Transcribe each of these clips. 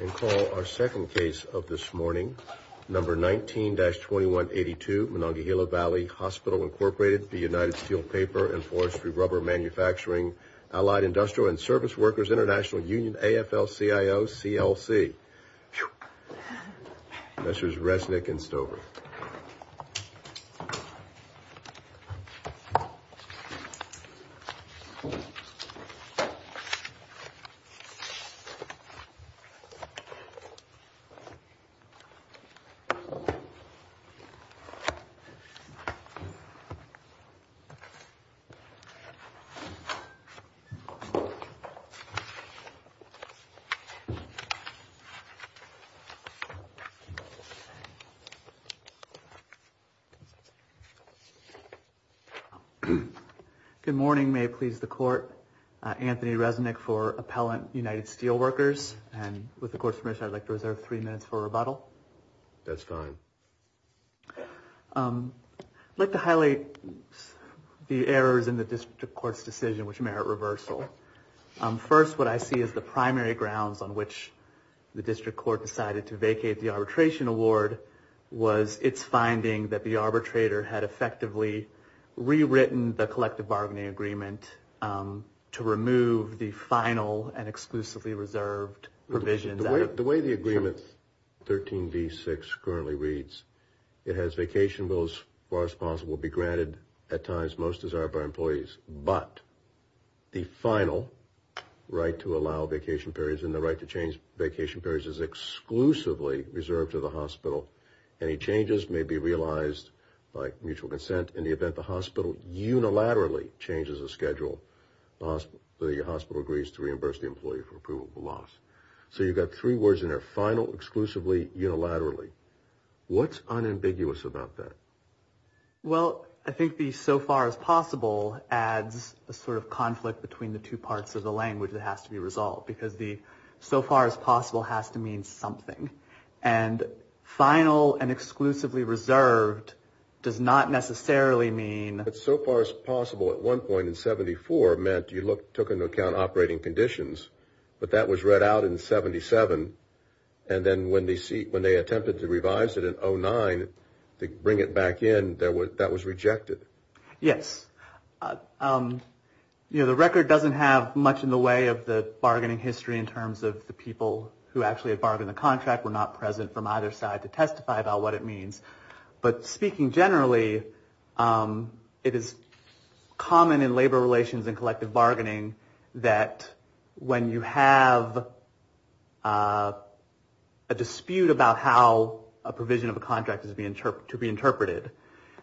And call our second case of this morning, number 19-2182, Monongahela Valley Hospital, Incorporated, United Steel Paper and Forestry Rubber Manufacturing, Allied Industrial and Service Workers International Union, AFL-CIO, CLC. Whew! Messrs. Resnick and Stover. Good morning. May it please the court. Anthony Resnick for Appellant United Steel Workers. And with the court's permission, I'd like to reserve three minutes for rebuttal. That's fine. I'd like to highlight the errors in the district court's decision which merit reversal. First, what I see as the primary grounds on which the district court decided to vacate the arbitration award was its finding that the arbitrator had effectively rewritten the collective bargaining agreement to remove the final and exclusively reserved provisions. The way the agreement 13b-6 currently reads, it has vacation bills as far as possible be granted at times most desired by employees, but the final right to allow vacation periods and the right to change vacation periods is exclusively reserved to the hospital. Any changes may be realized by mutual consent. In the event the hospital unilaterally changes the schedule, the hospital agrees to reimburse the employee for approval of the loss. So you've got three words in there, final, exclusively, unilaterally. What's unambiguous about that? Well, I think the so far as possible adds a sort of conflict between the two parts of the language that has to be resolved because the so far as possible has to mean something. And final and exclusively reserved does not necessarily mean... But so far as possible at one point in 74 meant you took into account operating conditions, but that was read out in 77, and then when they attempted to revise it in 09 to bring it back in, that was rejected. Yes. You know, the record doesn't have much in the way of the bargaining history in terms of the people who actually had bargained the contract were not present from either side to testify about what it means. But speaking generally, it is common in labor relations and collective bargaining that when you have a dispute about how a provision of a contract is to be interpreted,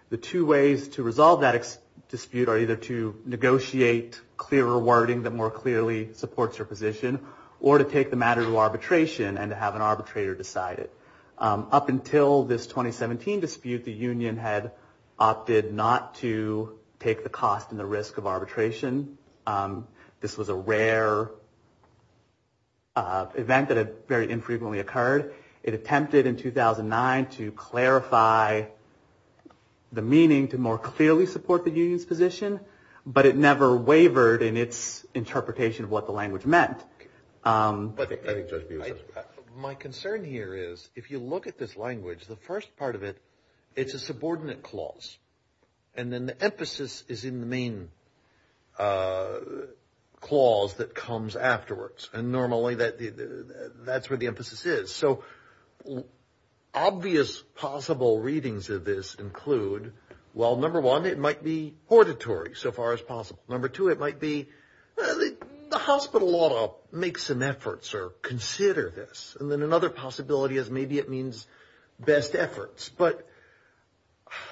the two ways to resolve that dispute are either to negotiate clearer wording that more clearly supports your position, or to take the matter to arbitration and to have an arbitrator decide it. Up until this 2017 dispute, the union had opted not to take the cost and the risk of arbitration. This was a rare event that had very infrequently occurred. It attempted in 2009 to clarify the meaning to more clearly support the union's position, but it never wavered in its interpretation of what the language meant. My concern here is if you look at this language, the first part of it, it's a subordinate clause, and then the emphasis is in the main clause that comes afterwards, and normally that's where the emphasis is. So obvious possible readings of this include, well, number one, it might be hortatory so far as possible. Number two, it might be the hospital ought to make some efforts or consider this. And then another possibility is maybe it means best efforts. But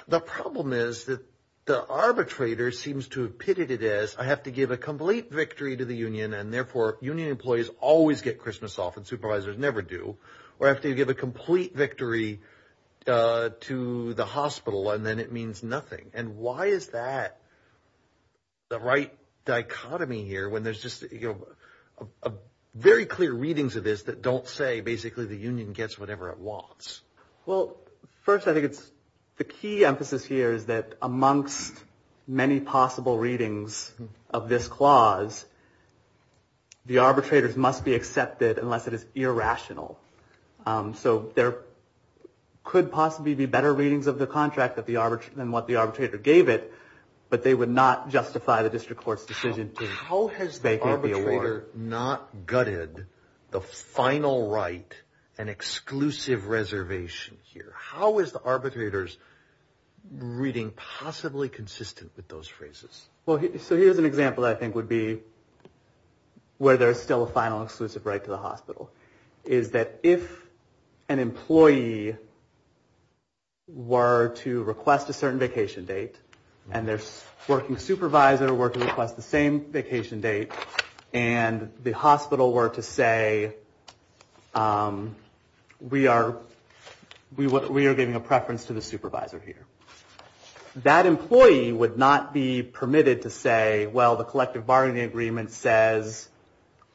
the problem is that the arbitrator seems to have pitted it as I have to give a complete victory to the union, and therefore union employees always get Christmas off and supervisors never do, or after you give a complete victory to the hospital and then it means nothing. And why is that the right dichotomy here when there's just very clear readings of this that don't say basically the union gets whatever it wants? Well, first I think it's the key emphasis here is that amongst many possible readings of this clause, the arbitrators must be accepted unless it is irrational. So there could possibly be better readings of the contract than what the arbitrator gave it, but they would not justify the district court's decision. How has the arbitrator not gutted the final right, an exclusive reservation here? How is the arbitrator's reading possibly consistent with those phrases? Well, so here's an example I think would be where there's still a final exclusive right to the hospital, is that if an employee were to request a certain vacation date and their working supervisor were to request the same vacation date and the hospital were to say, we are giving a preference to the supervisor here. That employee would not be permitted to say, well, the collective bargaining agreement says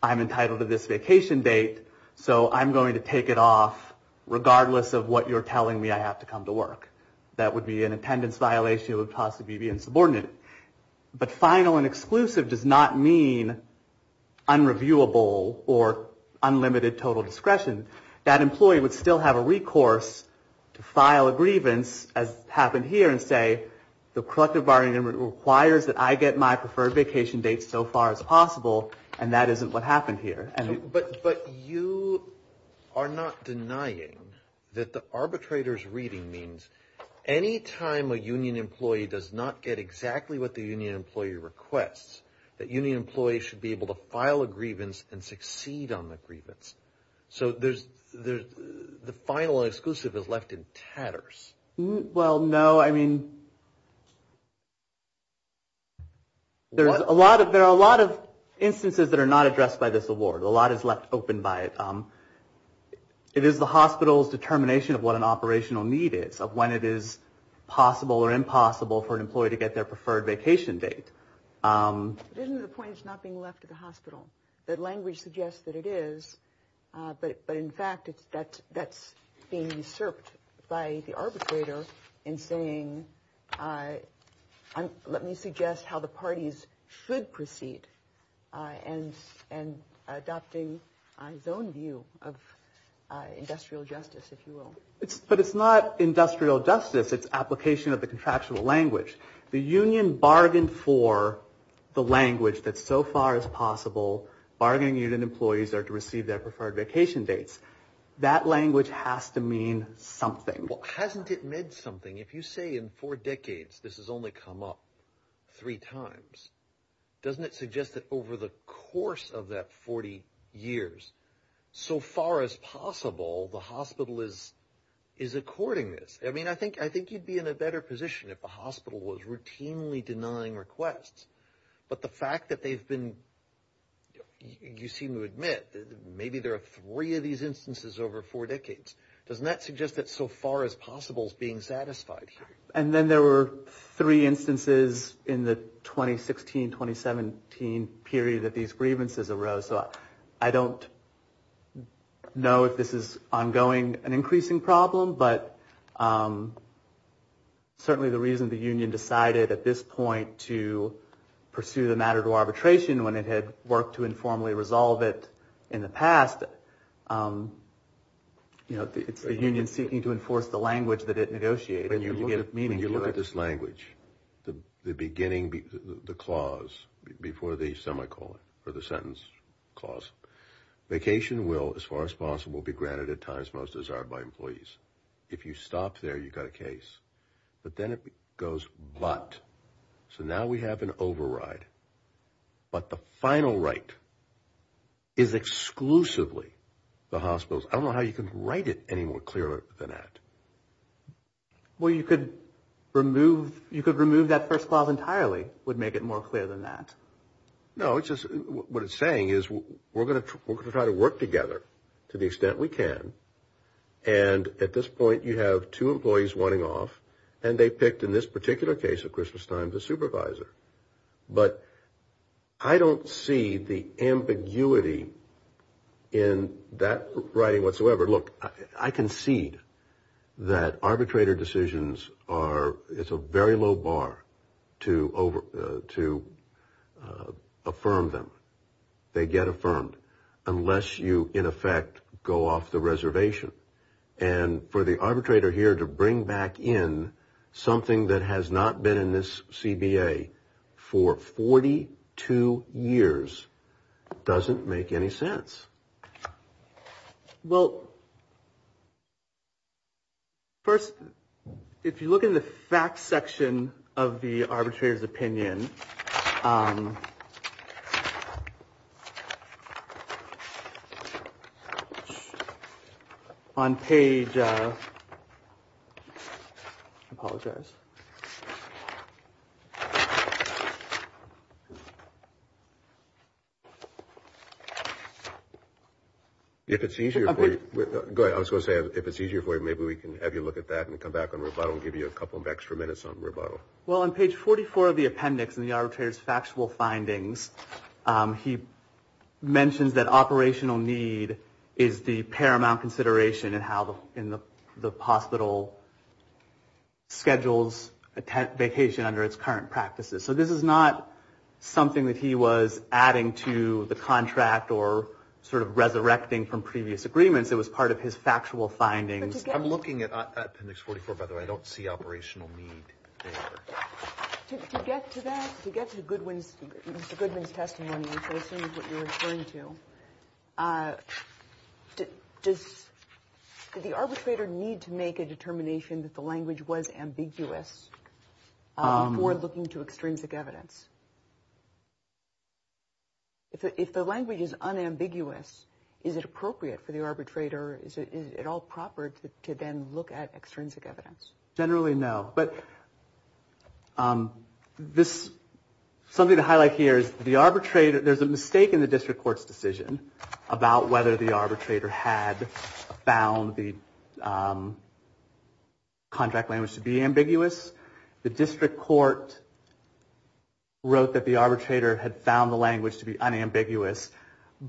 I'm entitled to this vacation date, so I'm going to take it off regardless of what you're telling me I have to come to work. That would be an attendance violation. It would possibly be insubordinate. But final and exclusive does not mean unreviewable or unlimited total discretion. That employee would still have a recourse to file a grievance, as happened here, and say the collective bargaining agreement requires that I get my preferred vacation date so far as possible, and that isn't what happened here. But you are not denying that the arbitrator's reading means any time a union employee does not get exactly what the union employee requests, that union employees should be able to file a grievance and succeed on the grievance. So the final and exclusive is left in tatters. Well, no, I mean, there are a lot of instances that are not addressed by this award. A lot is left open by it. It is the hospital's determination of what an operational need is, of when it is possible or impossible for an employee to get their preferred vacation date. But isn't the point it's not being left at the hospital? That language suggests that it is. But in fact, that's being usurped by the arbitrator in saying, let me suggest how the parties should proceed, and adopting his own view of industrial justice, if you will. But it's not industrial justice. It's application of the contractual language. The union bargained for the language that so far as possible, bargaining union employees are to receive their preferred vacation dates. That language has to mean something. Well, hasn't it meant something? If you say in four decades, this has only come up three times, doesn't it suggest that over the course of that 40 years, so far as possible, the hospital is according this? I mean, I think you'd be in a better position if the hospital was routinely denying requests. But the fact that they've been, you seem to admit, maybe there are three of these instances over four decades. Doesn't that suggest that so far as possible is being satisfied here? And then there were three instances in the 2016, 2017 period that these grievances arose. So I don't know if this is ongoing, an increasing problem, but certainly the reason the union decided at this point to pursue the matter to arbitration when it had worked to informally resolve it in the past. You know, it's the union seeking to enforce the language that it negotiated. When you look at this language, the beginning, the clause before the semicolon or the sentence clause, vacation will, as far as possible, be granted at times most desired by employees. If you stop there, you've got a case. But then it goes but. So now we have an override. But the final right is exclusively the hospital's. I don't know how you can write it any more clearly than that. Well, you could remove, you could remove that first clause entirely would make it more clear than that. No, it's just what it's saying is we're going to try to work together to the extent we can. And at this point, you have two employees wanting off. And they picked in this particular case at Christmas time the supervisor. But I don't see the ambiguity in that writing whatsoever. Look, I concede that arbitrator decisions are. It's a very low bar to over to affirm them. They get affirmed unless you, in effect, go off the reservation. And for the arbitrator here to bring back in something that has not been in this CBA for 42 years doesn't make any sense. Well. First, if you look in the fact section of the arbitrator's opinion. On page. Apologize. If it's easier. I was going to say, if it's easier for you, maybe we can have you look at that and come back on. But I'll give you a couple of extra minutes on rebuttal. Well, on page 44 of the appendix in the arbitrator's factual findings, he mentions that operational need is the paramount consideration and how in the hospital schedules a vacation under its current practices. So this is not something that he was adding to the contract or sort of resurrecting from previous agreements. It was part of his factual findings. I'm looking at appendix 44, by the way. I don't see operational need. To get to that, to get to Goodwin's. Goodwin's testimony is what you're referring to. Does the arbitrator need to make a determination that the language was ambiguous? We're looking to extrinsic evidence. If the language is unambiguous, is it appropriate for the arbitrator, is it at all proper to then look at extrinsic evidence? Generally, no. But this, something to highlight here is the arbitrator, there's a mistake in the district court's decision about whether the arbitrator had found the contract language to be ambiguous. The district court wrote that the arbitrator had found the language to be unambiguous.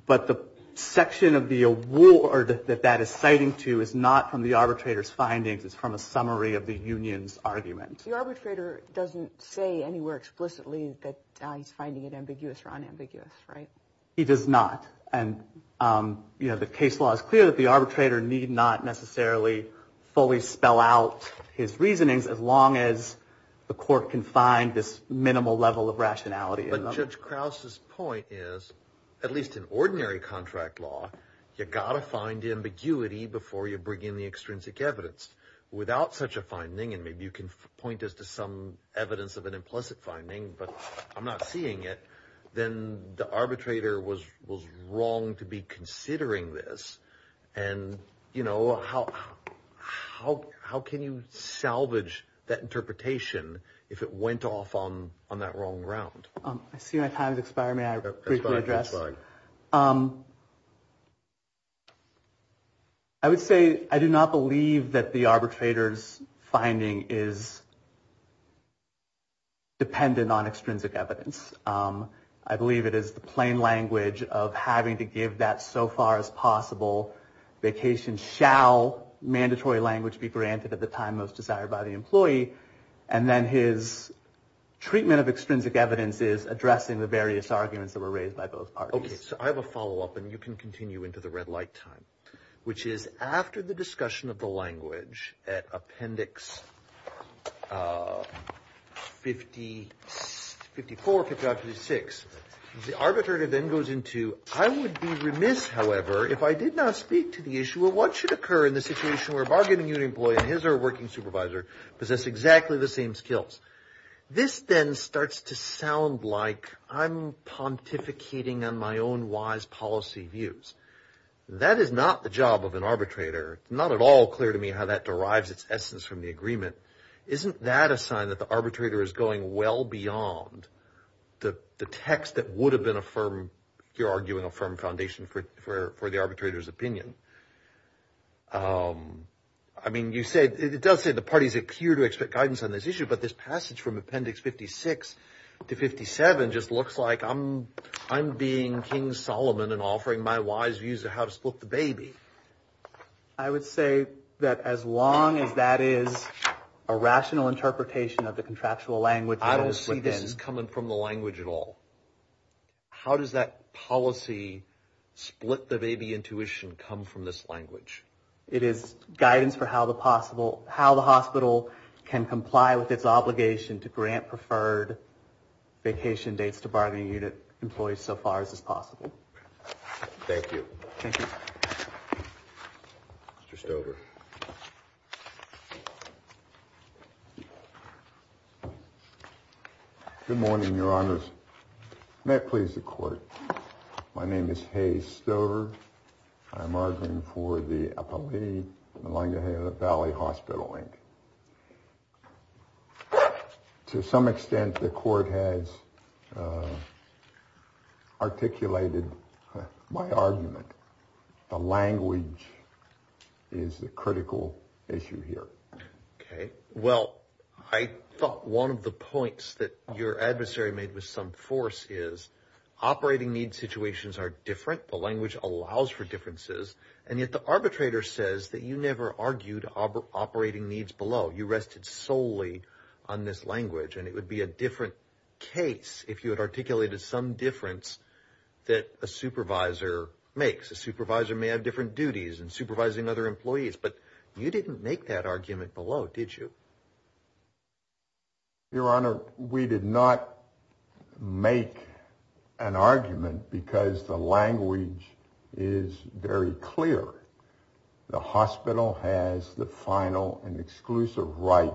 But the section of the award that that is citing to is not from the arbitrator's findings. It's from a summary of the union's argument. The arbitrator doesn't say anywhere explicitly that he's finding it ambiguous or unambiguous, right? He does not. And, you know, the case law is clear that the arbitrator need not necessarily fully spell out his reasonings as long as the court can find this minimal level of rationality. But Judge Krause's point is, at least in ordinary contract law, you've got to find ambiguity before you bring in the extrinsic evidence. Without such a finding, and maybe you can point us to some evidence of an implicit finding, but I'm not seeing it, then the arbitrator was wrong. To be considering this. And, you know, how how how can you salvage that interpretation if it went off on on that wrong ground? I see my time is expiring. I address. I would say I do not believe that the arbitrator's finding is. Dependent on extrinsic evidence, I believe it is the plain language of having to give that so far as possible. Vacation shall mandatory language be granted at the time most desired by the employee. And then his treatment of extrinsic evidence is addressing the various arguments that were raised by both parties. I have a follow up and you can continue into the red light time, which is after the discussion of the language at appendix. Fifty fifty four fifty six. The arbitrator then goes into. I would be remiss, however, if I did not speak to the issue of what should occur in the situation where bargaining employee and his or working supervisor possess exactly the same skills. This then starts to sound like I'm pontificating on my own wise policy views. That is not the job of an arbitrator. Not at all clear to me how that derives its essence from the agreement. Isn't that a sign that the arbitrator is going well beyond the text that would have been a firm? You're arguing a firm foundation for for the arbitrator's opinion. I mean, you said it does say the parties appear to expect guidance on this issue. But this passage from appendix fifty six to fifty seven just looks like I'm I'm being King Solomon and offering my wise views of how to split the baby. I would say that as long as that is a rational interpretation of the contractual language, I don't see this is coming from the language at all. How does that policy split the baby intuition come from this language? It is guidance for how the possible how the hospital can comply with its obligation to grant preferred vacation dates to bargaining unit employees so far as is possible. Thank you. Thank you. Just over. Good morning, Your Honors. May it please the court. My name is Hayes Stover. I'm arguing for the Appalachian Valley Hospital Inc. To some extent, the court has articulated my argument. The language is a critical issue here. OK. Well, I thought one of the points that your adversary made with some force is operating needs. Situations are different. The language allows for differences. And yet the arbitrator says that you never argued operating needs below. You rested solely on this language. And it would be a different case if you had articulated some difference that a supervisor makes. A supervisor may have different duties and supervising other employees. But you didn't make that argument below, did you? Your Honor, we did not make an argument because the language is very clear. The hospital has the final and exclusive right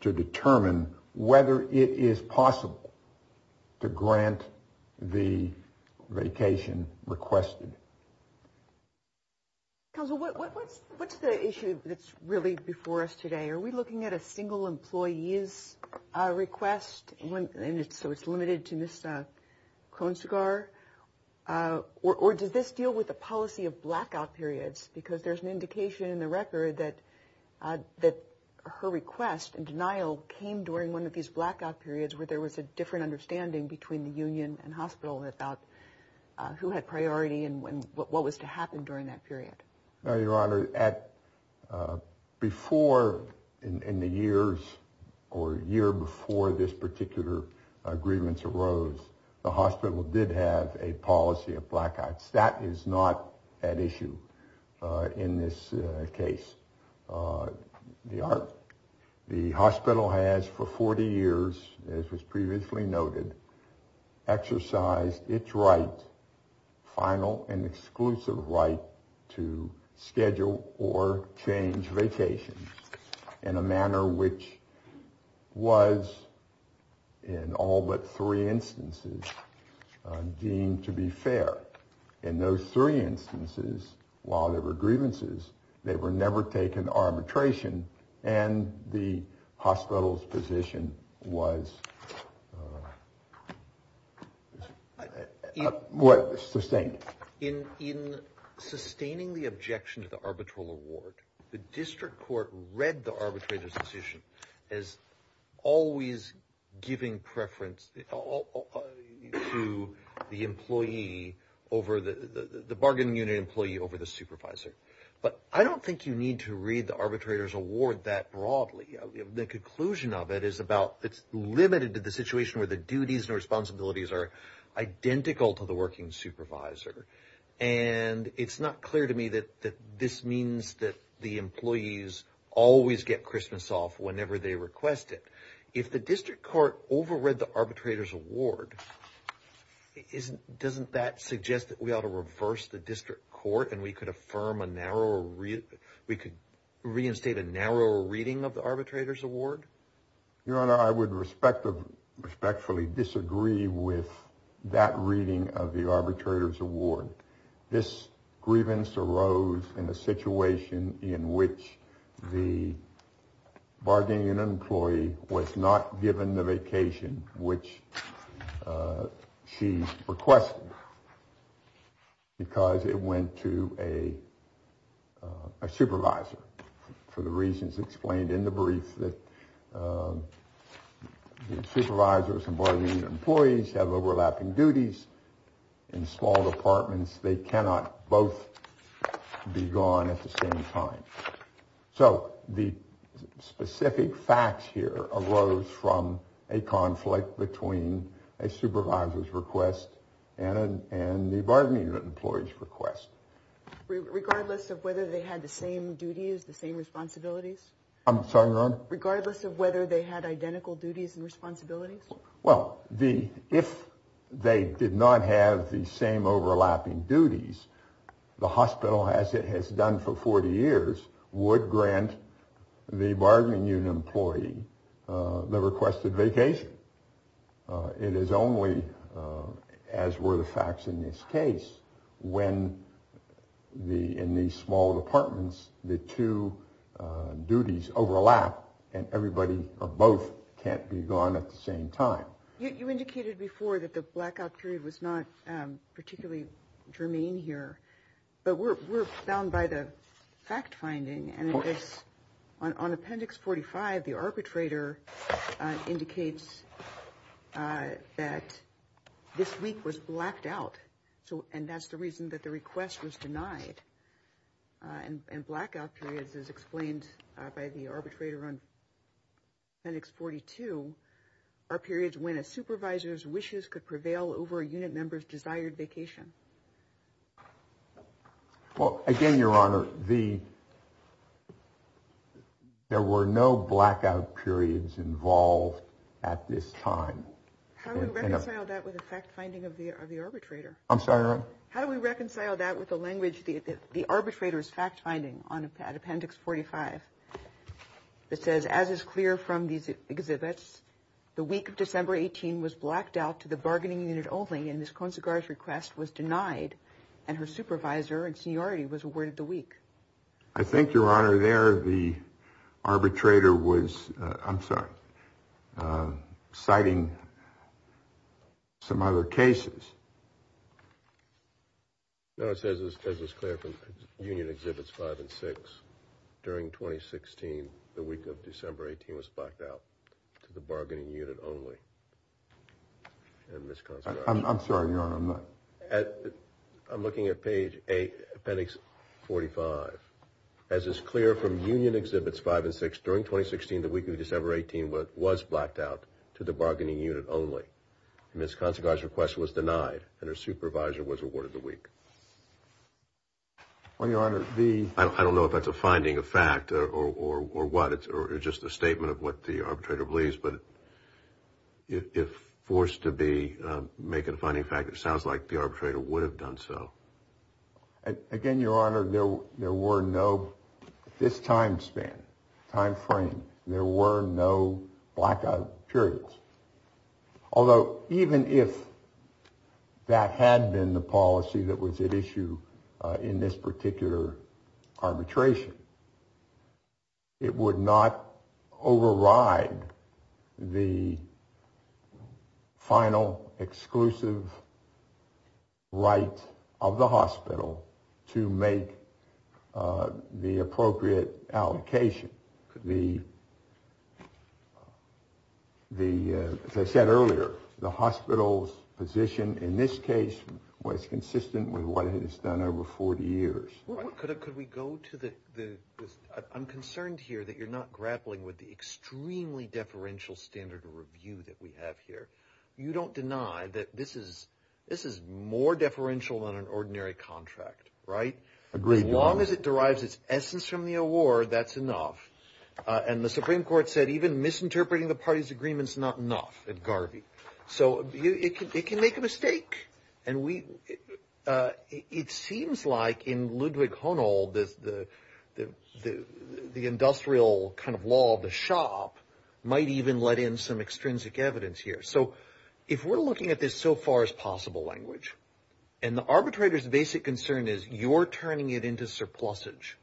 to determine whether it is possible to grant the vacation requested. What's the issue that's really before us today? Are we looking at a single employee's request? So it's limited to Ms. Kronsigar? Or does this deal with the policy of blackout periods? Because there's an indication in the record that her request and denial came during one of these blackout periods where there was a different understanding between the union and hospital about who had priority and what was to happen during that period. Your Honor, before, in the years or year before this particular agreement arose, the hospital did have a policy of blackouts. That is not at issue in this case. The hospital has for 40 years, as was previously noted, exercised its right, final and exclusive right, to schedule or change vacations in a manner which was in all but three instances deemed to be fair. In those three instances, while there were grievances, they were never taken to what? Sustained. In sustaining the objection to the arbitral award, the district court read the arbitrator's decision as always giving preference to the employee over the bargaining unit employee over the supervisor. But I don't think you need to read the arbitrator's decision. It's limited to the situation where the duties and responsibilities are identical to the working supervisor. And it's not clear to me that this means that the employees always get Christmas off whenever they request it. If the district court overread the arbitrator's award, doesn't that suggest that we ought to reverse the district court and we could affirm a narrow, we could reinstate a narrow reading of the arbitrator's award? Your Honor, I would respectfully disagree with that reading of the arbitrator's award. This grievance arose in a situation in which the bargaining unit employee was not given the vacation which she requested because it went to a supervisor for the reasons explained in the brief that supervisors and bargaining employees have overlapping duties in small departments. They cannot both be gone at the same time. So the specific facts here arose from a conflict between a supervisor's request and the bargaining unit employee's request. Regardless of whether they had the same duties, the same responsibilities? I'm sorry, Your Honor? Regardless of whether they had identical duties and responsibilities? Well, if they did not have the same overlapping duties, the hospital, as it has done for 40 years, would grant the bargaining unit employee the requested vacation. It is only as were the facts in this case when the in these small departments, the two duties overlap and everybody or both can't be gone at the same time. You indicated before that the blackout period was not particularly germane here, but we're bound by the fact-finding. On Appendix 45, the arbitrator indicates that this week was blacked out. And that's the reason that the request was denied. And blackout periods, as explained by the arbitrator on Appendix 42, are periods when a supervisor's wishes could prevail over a unit member's desired vacation. Well, again, Your Honor, there were no blackout periods involved at this time. How do we reconcile that with the fact-finding of the arbitrator? I'm sorry. How do we reconcile that with the language, the arbitrator's fact-finding on Appendix 45? It says, as is clear from these exhibits, the week of December 18 was blacked out to the bargaining unit only in this consequence request was denied and her supervisor and seniority was awarded the week. I think, Your Honor, there the arbitrator was I'm sorry, citing some other cases. No, it says, as is clear from Union Exhibits 5 and 6, during 2016, the week of December 18 was blacked out to the bargaining unit only. I'm sorry, Your Honor, I'm not. I'm looking at page 8, Appendix 45. As is clear from Union Exhibits 5 and 6, during 2016, the week of December 18 was blacked out to the bargaining unit only in this consequence request was denied and her supervisor was awarded the week. Well, Your Honor, the I don't know if that's a finding of fact or what. It's just a statement of what the arbitrator believes. But if forced to be make it a finding of fact, it sounds like the arbitrator would have done so. Again, Your Honor, there were no this time span, time frame. There were no blackout periods, although even if that had been the policy that was at issue in this particular arbitration, it would not override the final exclusive right of the hospital to make the appropriate allocation. As I said earlier, the hospital's position in this case was consistent with what it has done over 40 years. I'm concerned here that you're not grappling with the extremely deferential standard of review that we have here. You don't deny that this is more deferential than an ordinary contract, right? Agreed, Your Honor. As long as it derives its essence from the award, that's enough. And the Supreme Court said even misinterpreting the party's agreement's not enough at Garvey. So it can make a mistake. And it seems like in Ludwig Honold, the industrial kind of law, the shop, might even let in some extrinsic evidence here. So if we're looking at this so far as possible language, and the arbitrator's basic concern is you're turning it into surplusage,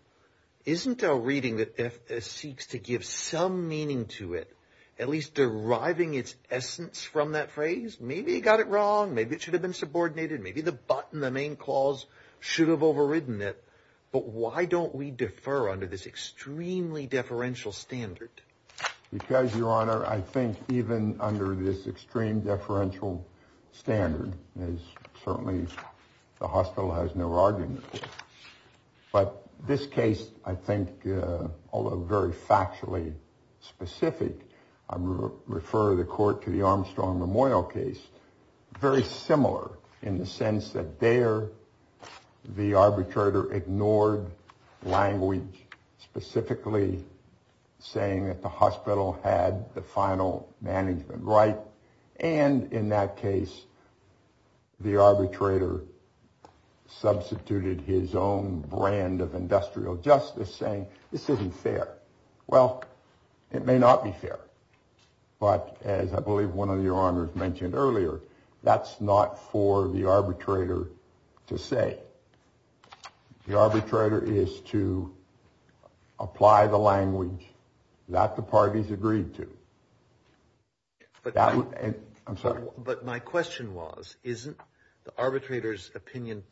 isn't a reading that seeks to give some meaning to it at least deriving its essence from that phrase? Maybe you got it wrong. Maybe it should have been subordinated. Maybe the button, the main clause should have overridden it. But why don't we defer under this extremely deferential standard? Because, Your Honor, I think even under this extreme deferential standard is certainly the hostile has no argument. But this case, I think, although very factually specific, I refer the court to the Armstrong Memorial case. Very similar in the sense that there the arbitrator ignored language specifically saying that the hospital had the final management right. And in that case, the arbitrator substituted his own brand of industrial justice saying this isn't fair. Well, it may not be fair. But as I believe one of your honors mentioned earlier, that's not for the arbitrator to say. The arbitrator is to apply the language that the parties agreed to. But I'm sorry, but my question was, isn't the arbitrator's opinion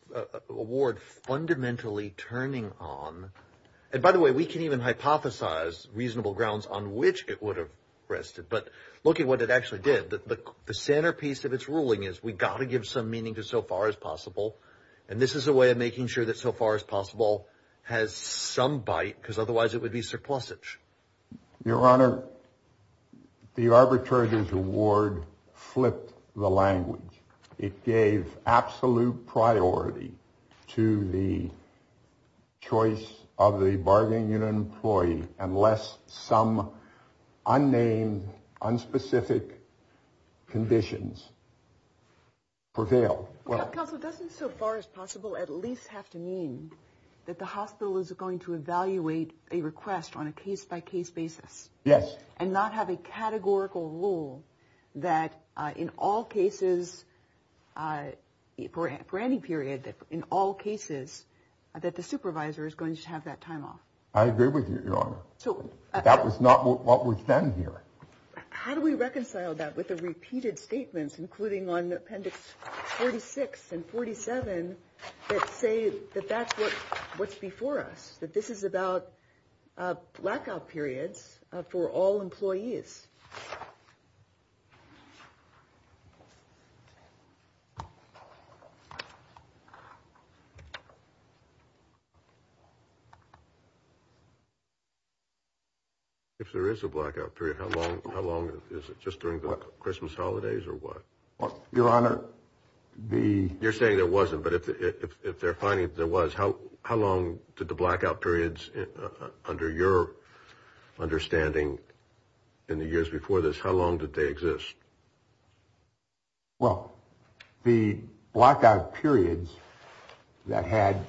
award fundamentally turning on? And by the way, we can even hypothesize reasonable grounds on which it would have rested. But look at what it actually did. The centerpiece of its ruling is we got to give some meaning to so far as possible. And this is a way of making sure that so far as possible has some bite, because otherwise it would be surplusage. Your Honor, the arbitrator's award flipped the language. It gave absolute priority to the choice of the bargaining unit employee. Unless some unnamed, unspecific conditions prevail. Well, it doesn't so far as possible at least have to mean that the hospital is going to evaluate a request on a case by case basis. Yes. And not have a categorical rule that in all cases, for any period, that in all cases that the supervisor is going to have that time off. I agree with you, Your Honor. So that was not what was done here. How do we reconcile that with the repeated statements, including on the appendix 46 and 47, that say that that's what's before us, that this is about blackout periods for all employees? Is. If there is a blackout period, how long, how long is it just during the Christmas holidays or what? Your Honor, the you're saying there wasn't. But if they're finding there was how, how long did the blackout periods under your understanding in the years before this, how long did they exist? Well, the blackout periods that had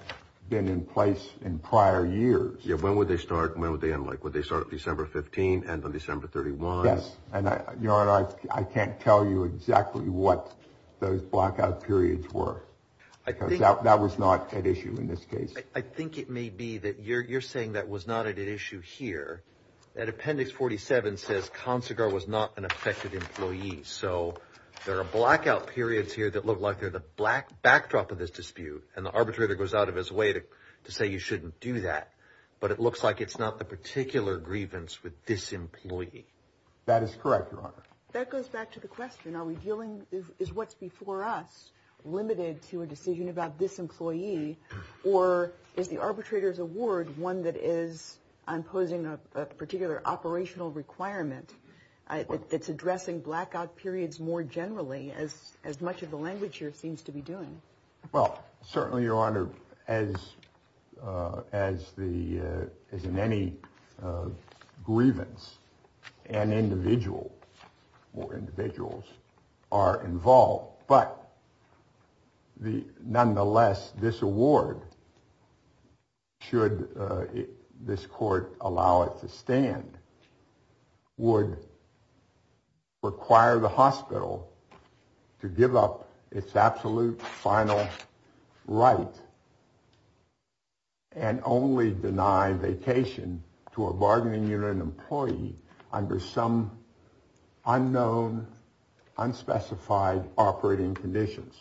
been in place in prior years. Yeah. When would they start? When would they end? Like, would they start December 15 and on December 31? Yes. And, Your Honor, I can't tell you exactly what those blackout periods were. I think that was not an issue in this case. I think it may be that you're saying that was not an issue here. That Appendix 47 says consular was not an effective employee. So there are blackout periods here that look like they're the black backdrop of this dispute. And the arbitrator goes out of his way to say you shouldn't do that. But it looks like it's not the particular grievance with this employee. That is correct. That goes back to the question. Are we dealing is what's before us limited to a decision about this employee? Or is the arbitrator's award one that is imposing a particular operational requirement? It's addressing blackout periods more generally as as much of the language here seems to be doing. Well, certainly, Your Honor, as as the as in any grievance, an individual or individuals are involved. But the nonetheless, this award. Should this court allow it to stand? Would require the hospital to give up its absolute final right. And only deny vacation to a bargaining unit employee under some unknown, unspecified operating conditions.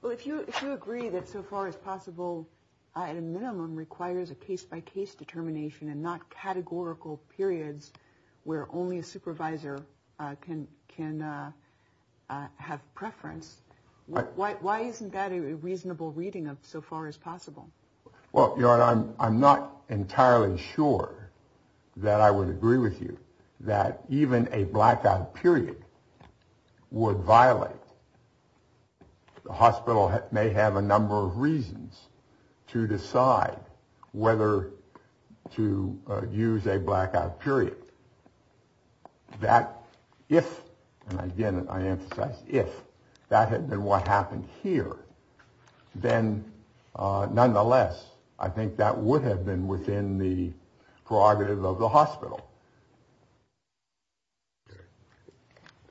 Well, if you if you agree that so far as possible, a minimum requires a case by case determination and not categorical periods where only a supervisor can can have preference. Why isn't that a reasonable reading of so far as possible? Well, Your Honor, I'm not entirely sure that I would agree with you that even a blackout period would violate. The hospital may have a number of reasons to decide whether to use a blackout period. That if I get it, I emphasize if that had been what happened here, then nonetheless, I think that would have been within the prerogative of the hospital.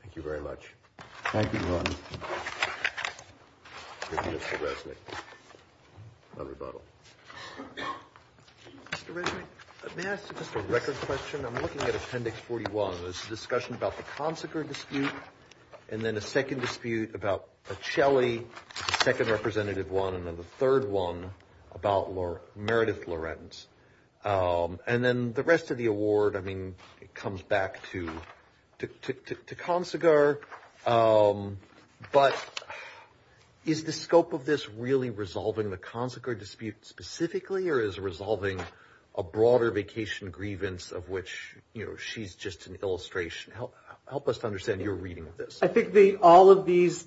Thank you very much. Thank you. Mr. Resnick. Mr. Resnick, may I ask you just a record question? I'm looking at Appendix 41. There's a discussion about the consular dispute and then a second dispute about a Shelley second representative one. And then the third one about Lord Meredith Lorenz and then the rest of the award. I mean, it comes back to to to to consular. But is the scope of this really resolving the consular dispute specifically or is resolving a broader vacation grievance of which, you know, she's just an illustration? Help help us to understand your reading of this. I think the all of these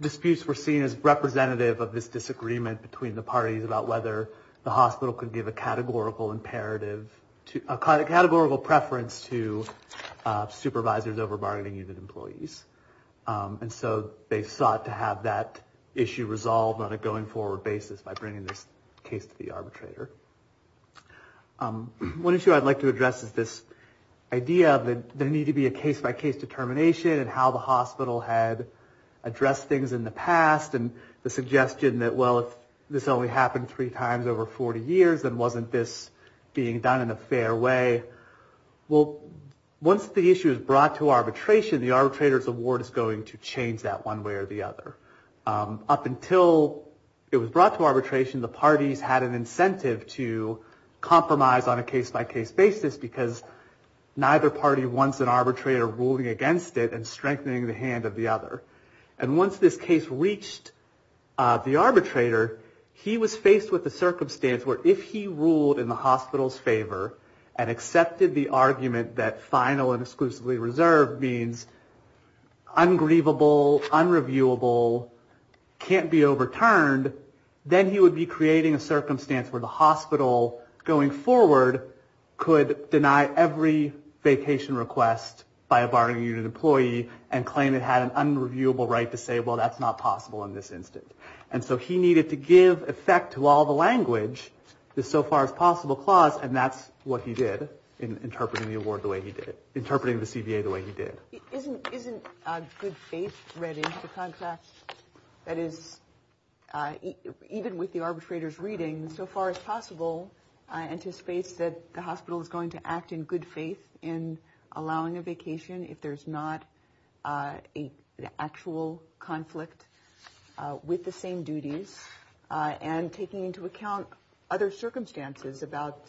disputes were seen as representative of this disagreement between the parties about whether the hospital could give a categorical imperative to a categorical preference to supervisors over bargaining even employees. And so they sought to have that issue resolved on a going forward basis by bringing this case to the arbitrator. One issue I'd like to address is this idea that there need to be a case by case determination and how the hospital had addressed things in the past. And the suggestion that, well, if this only happened three times over 40 years, then wasn't this being done in a fair way? Well, once the issue is brought to arbitration, the arbitrator's award is going to change that one way or the other. Up until it was brought to arbitration, the parties had an incentive to compromise on a case by case basis because neither party wants an arbitrator ruling against it and strengthening the hand of the other. And once this case reached the arbitrator, he was faced with a circumstance where if he ruled in the hospital's favor and accepted the argument that final and exclusively reserved means ungrievable, unreviewable, can't be overturned, then he would be creating a circumstance where the hospital going forward could deny every vacation request by a bargaining unit employee and claim it had an unreviewable condition. And so he needed to give effect to all the language, the so far as possible clause, and that's what he did in interpreting the award the way he did it. Interpreting the CBA the way he did. Isn't isn't good faith ready to contract? That is, even with the arbitrator's reading so far as possible, I anticipate that the hospital is going to act in good faith in allowing a vacation if there's not an actual conflict with the same duties and taking into account other circumstances about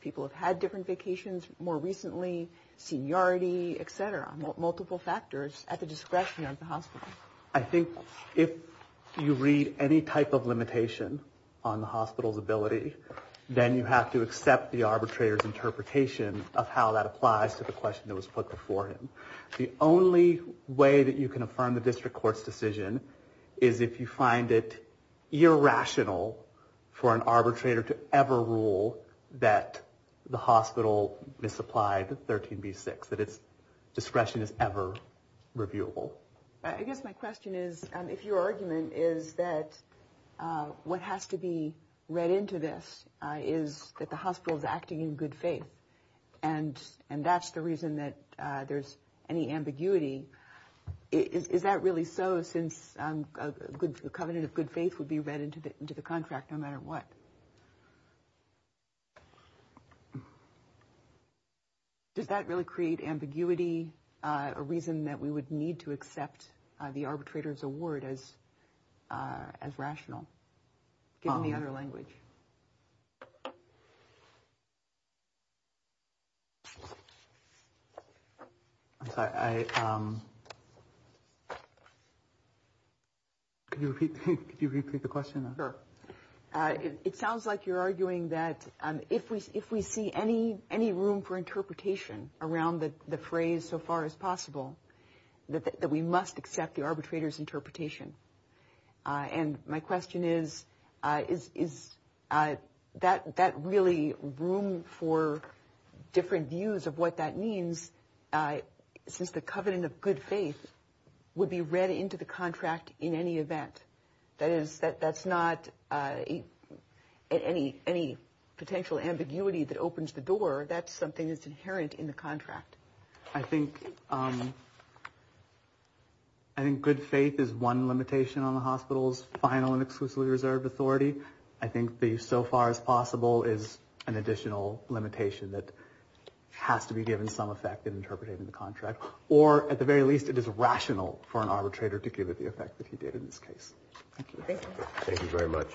people have had different vacations more recently, seniority, et cetera. I think if you read any type of limitation on the hospital's ability, then you have to accept the arbitrator's interpretation of how that applies to the question that was put before him. The only way that you can affirm the district court's decision is if you find it irrational for an arbitrator to ever rule that the hospital misapplied 13b6, that it's discretionary. That discretion is ever reviewable. I guess my question is, if your argument is that what has to be read into this is that the hospital is acting in good faith, and that's the reason that there's any ambiguity, is that really so since a covenant of good faith would be read into the contract no matter what? Does that really create ambiguity, a reason that we would need to accept the arbitrator's award as rational, given the other language? I'm sorry. Could you repeat the question? It sounds like you're arguing that if we see any room for interpretation around the phrase so far as possible, that we must accept the arbitrator's interpretation. And my question is, is that really room for different views of what that means since the covenant of good faith would be read into the contract in any event? That is, that's not any potential ambiguity that opens the door, that's something that's inherent in the contract. I think good faith is one limitation on the hospital's final and exclusively reserved authority. I think the so far as possible is an additional limitation that has to be given some effect in interpreting the contract, or at the very least it is rational for an arbitrator to give it the effect that he did in this case. Thank you very much.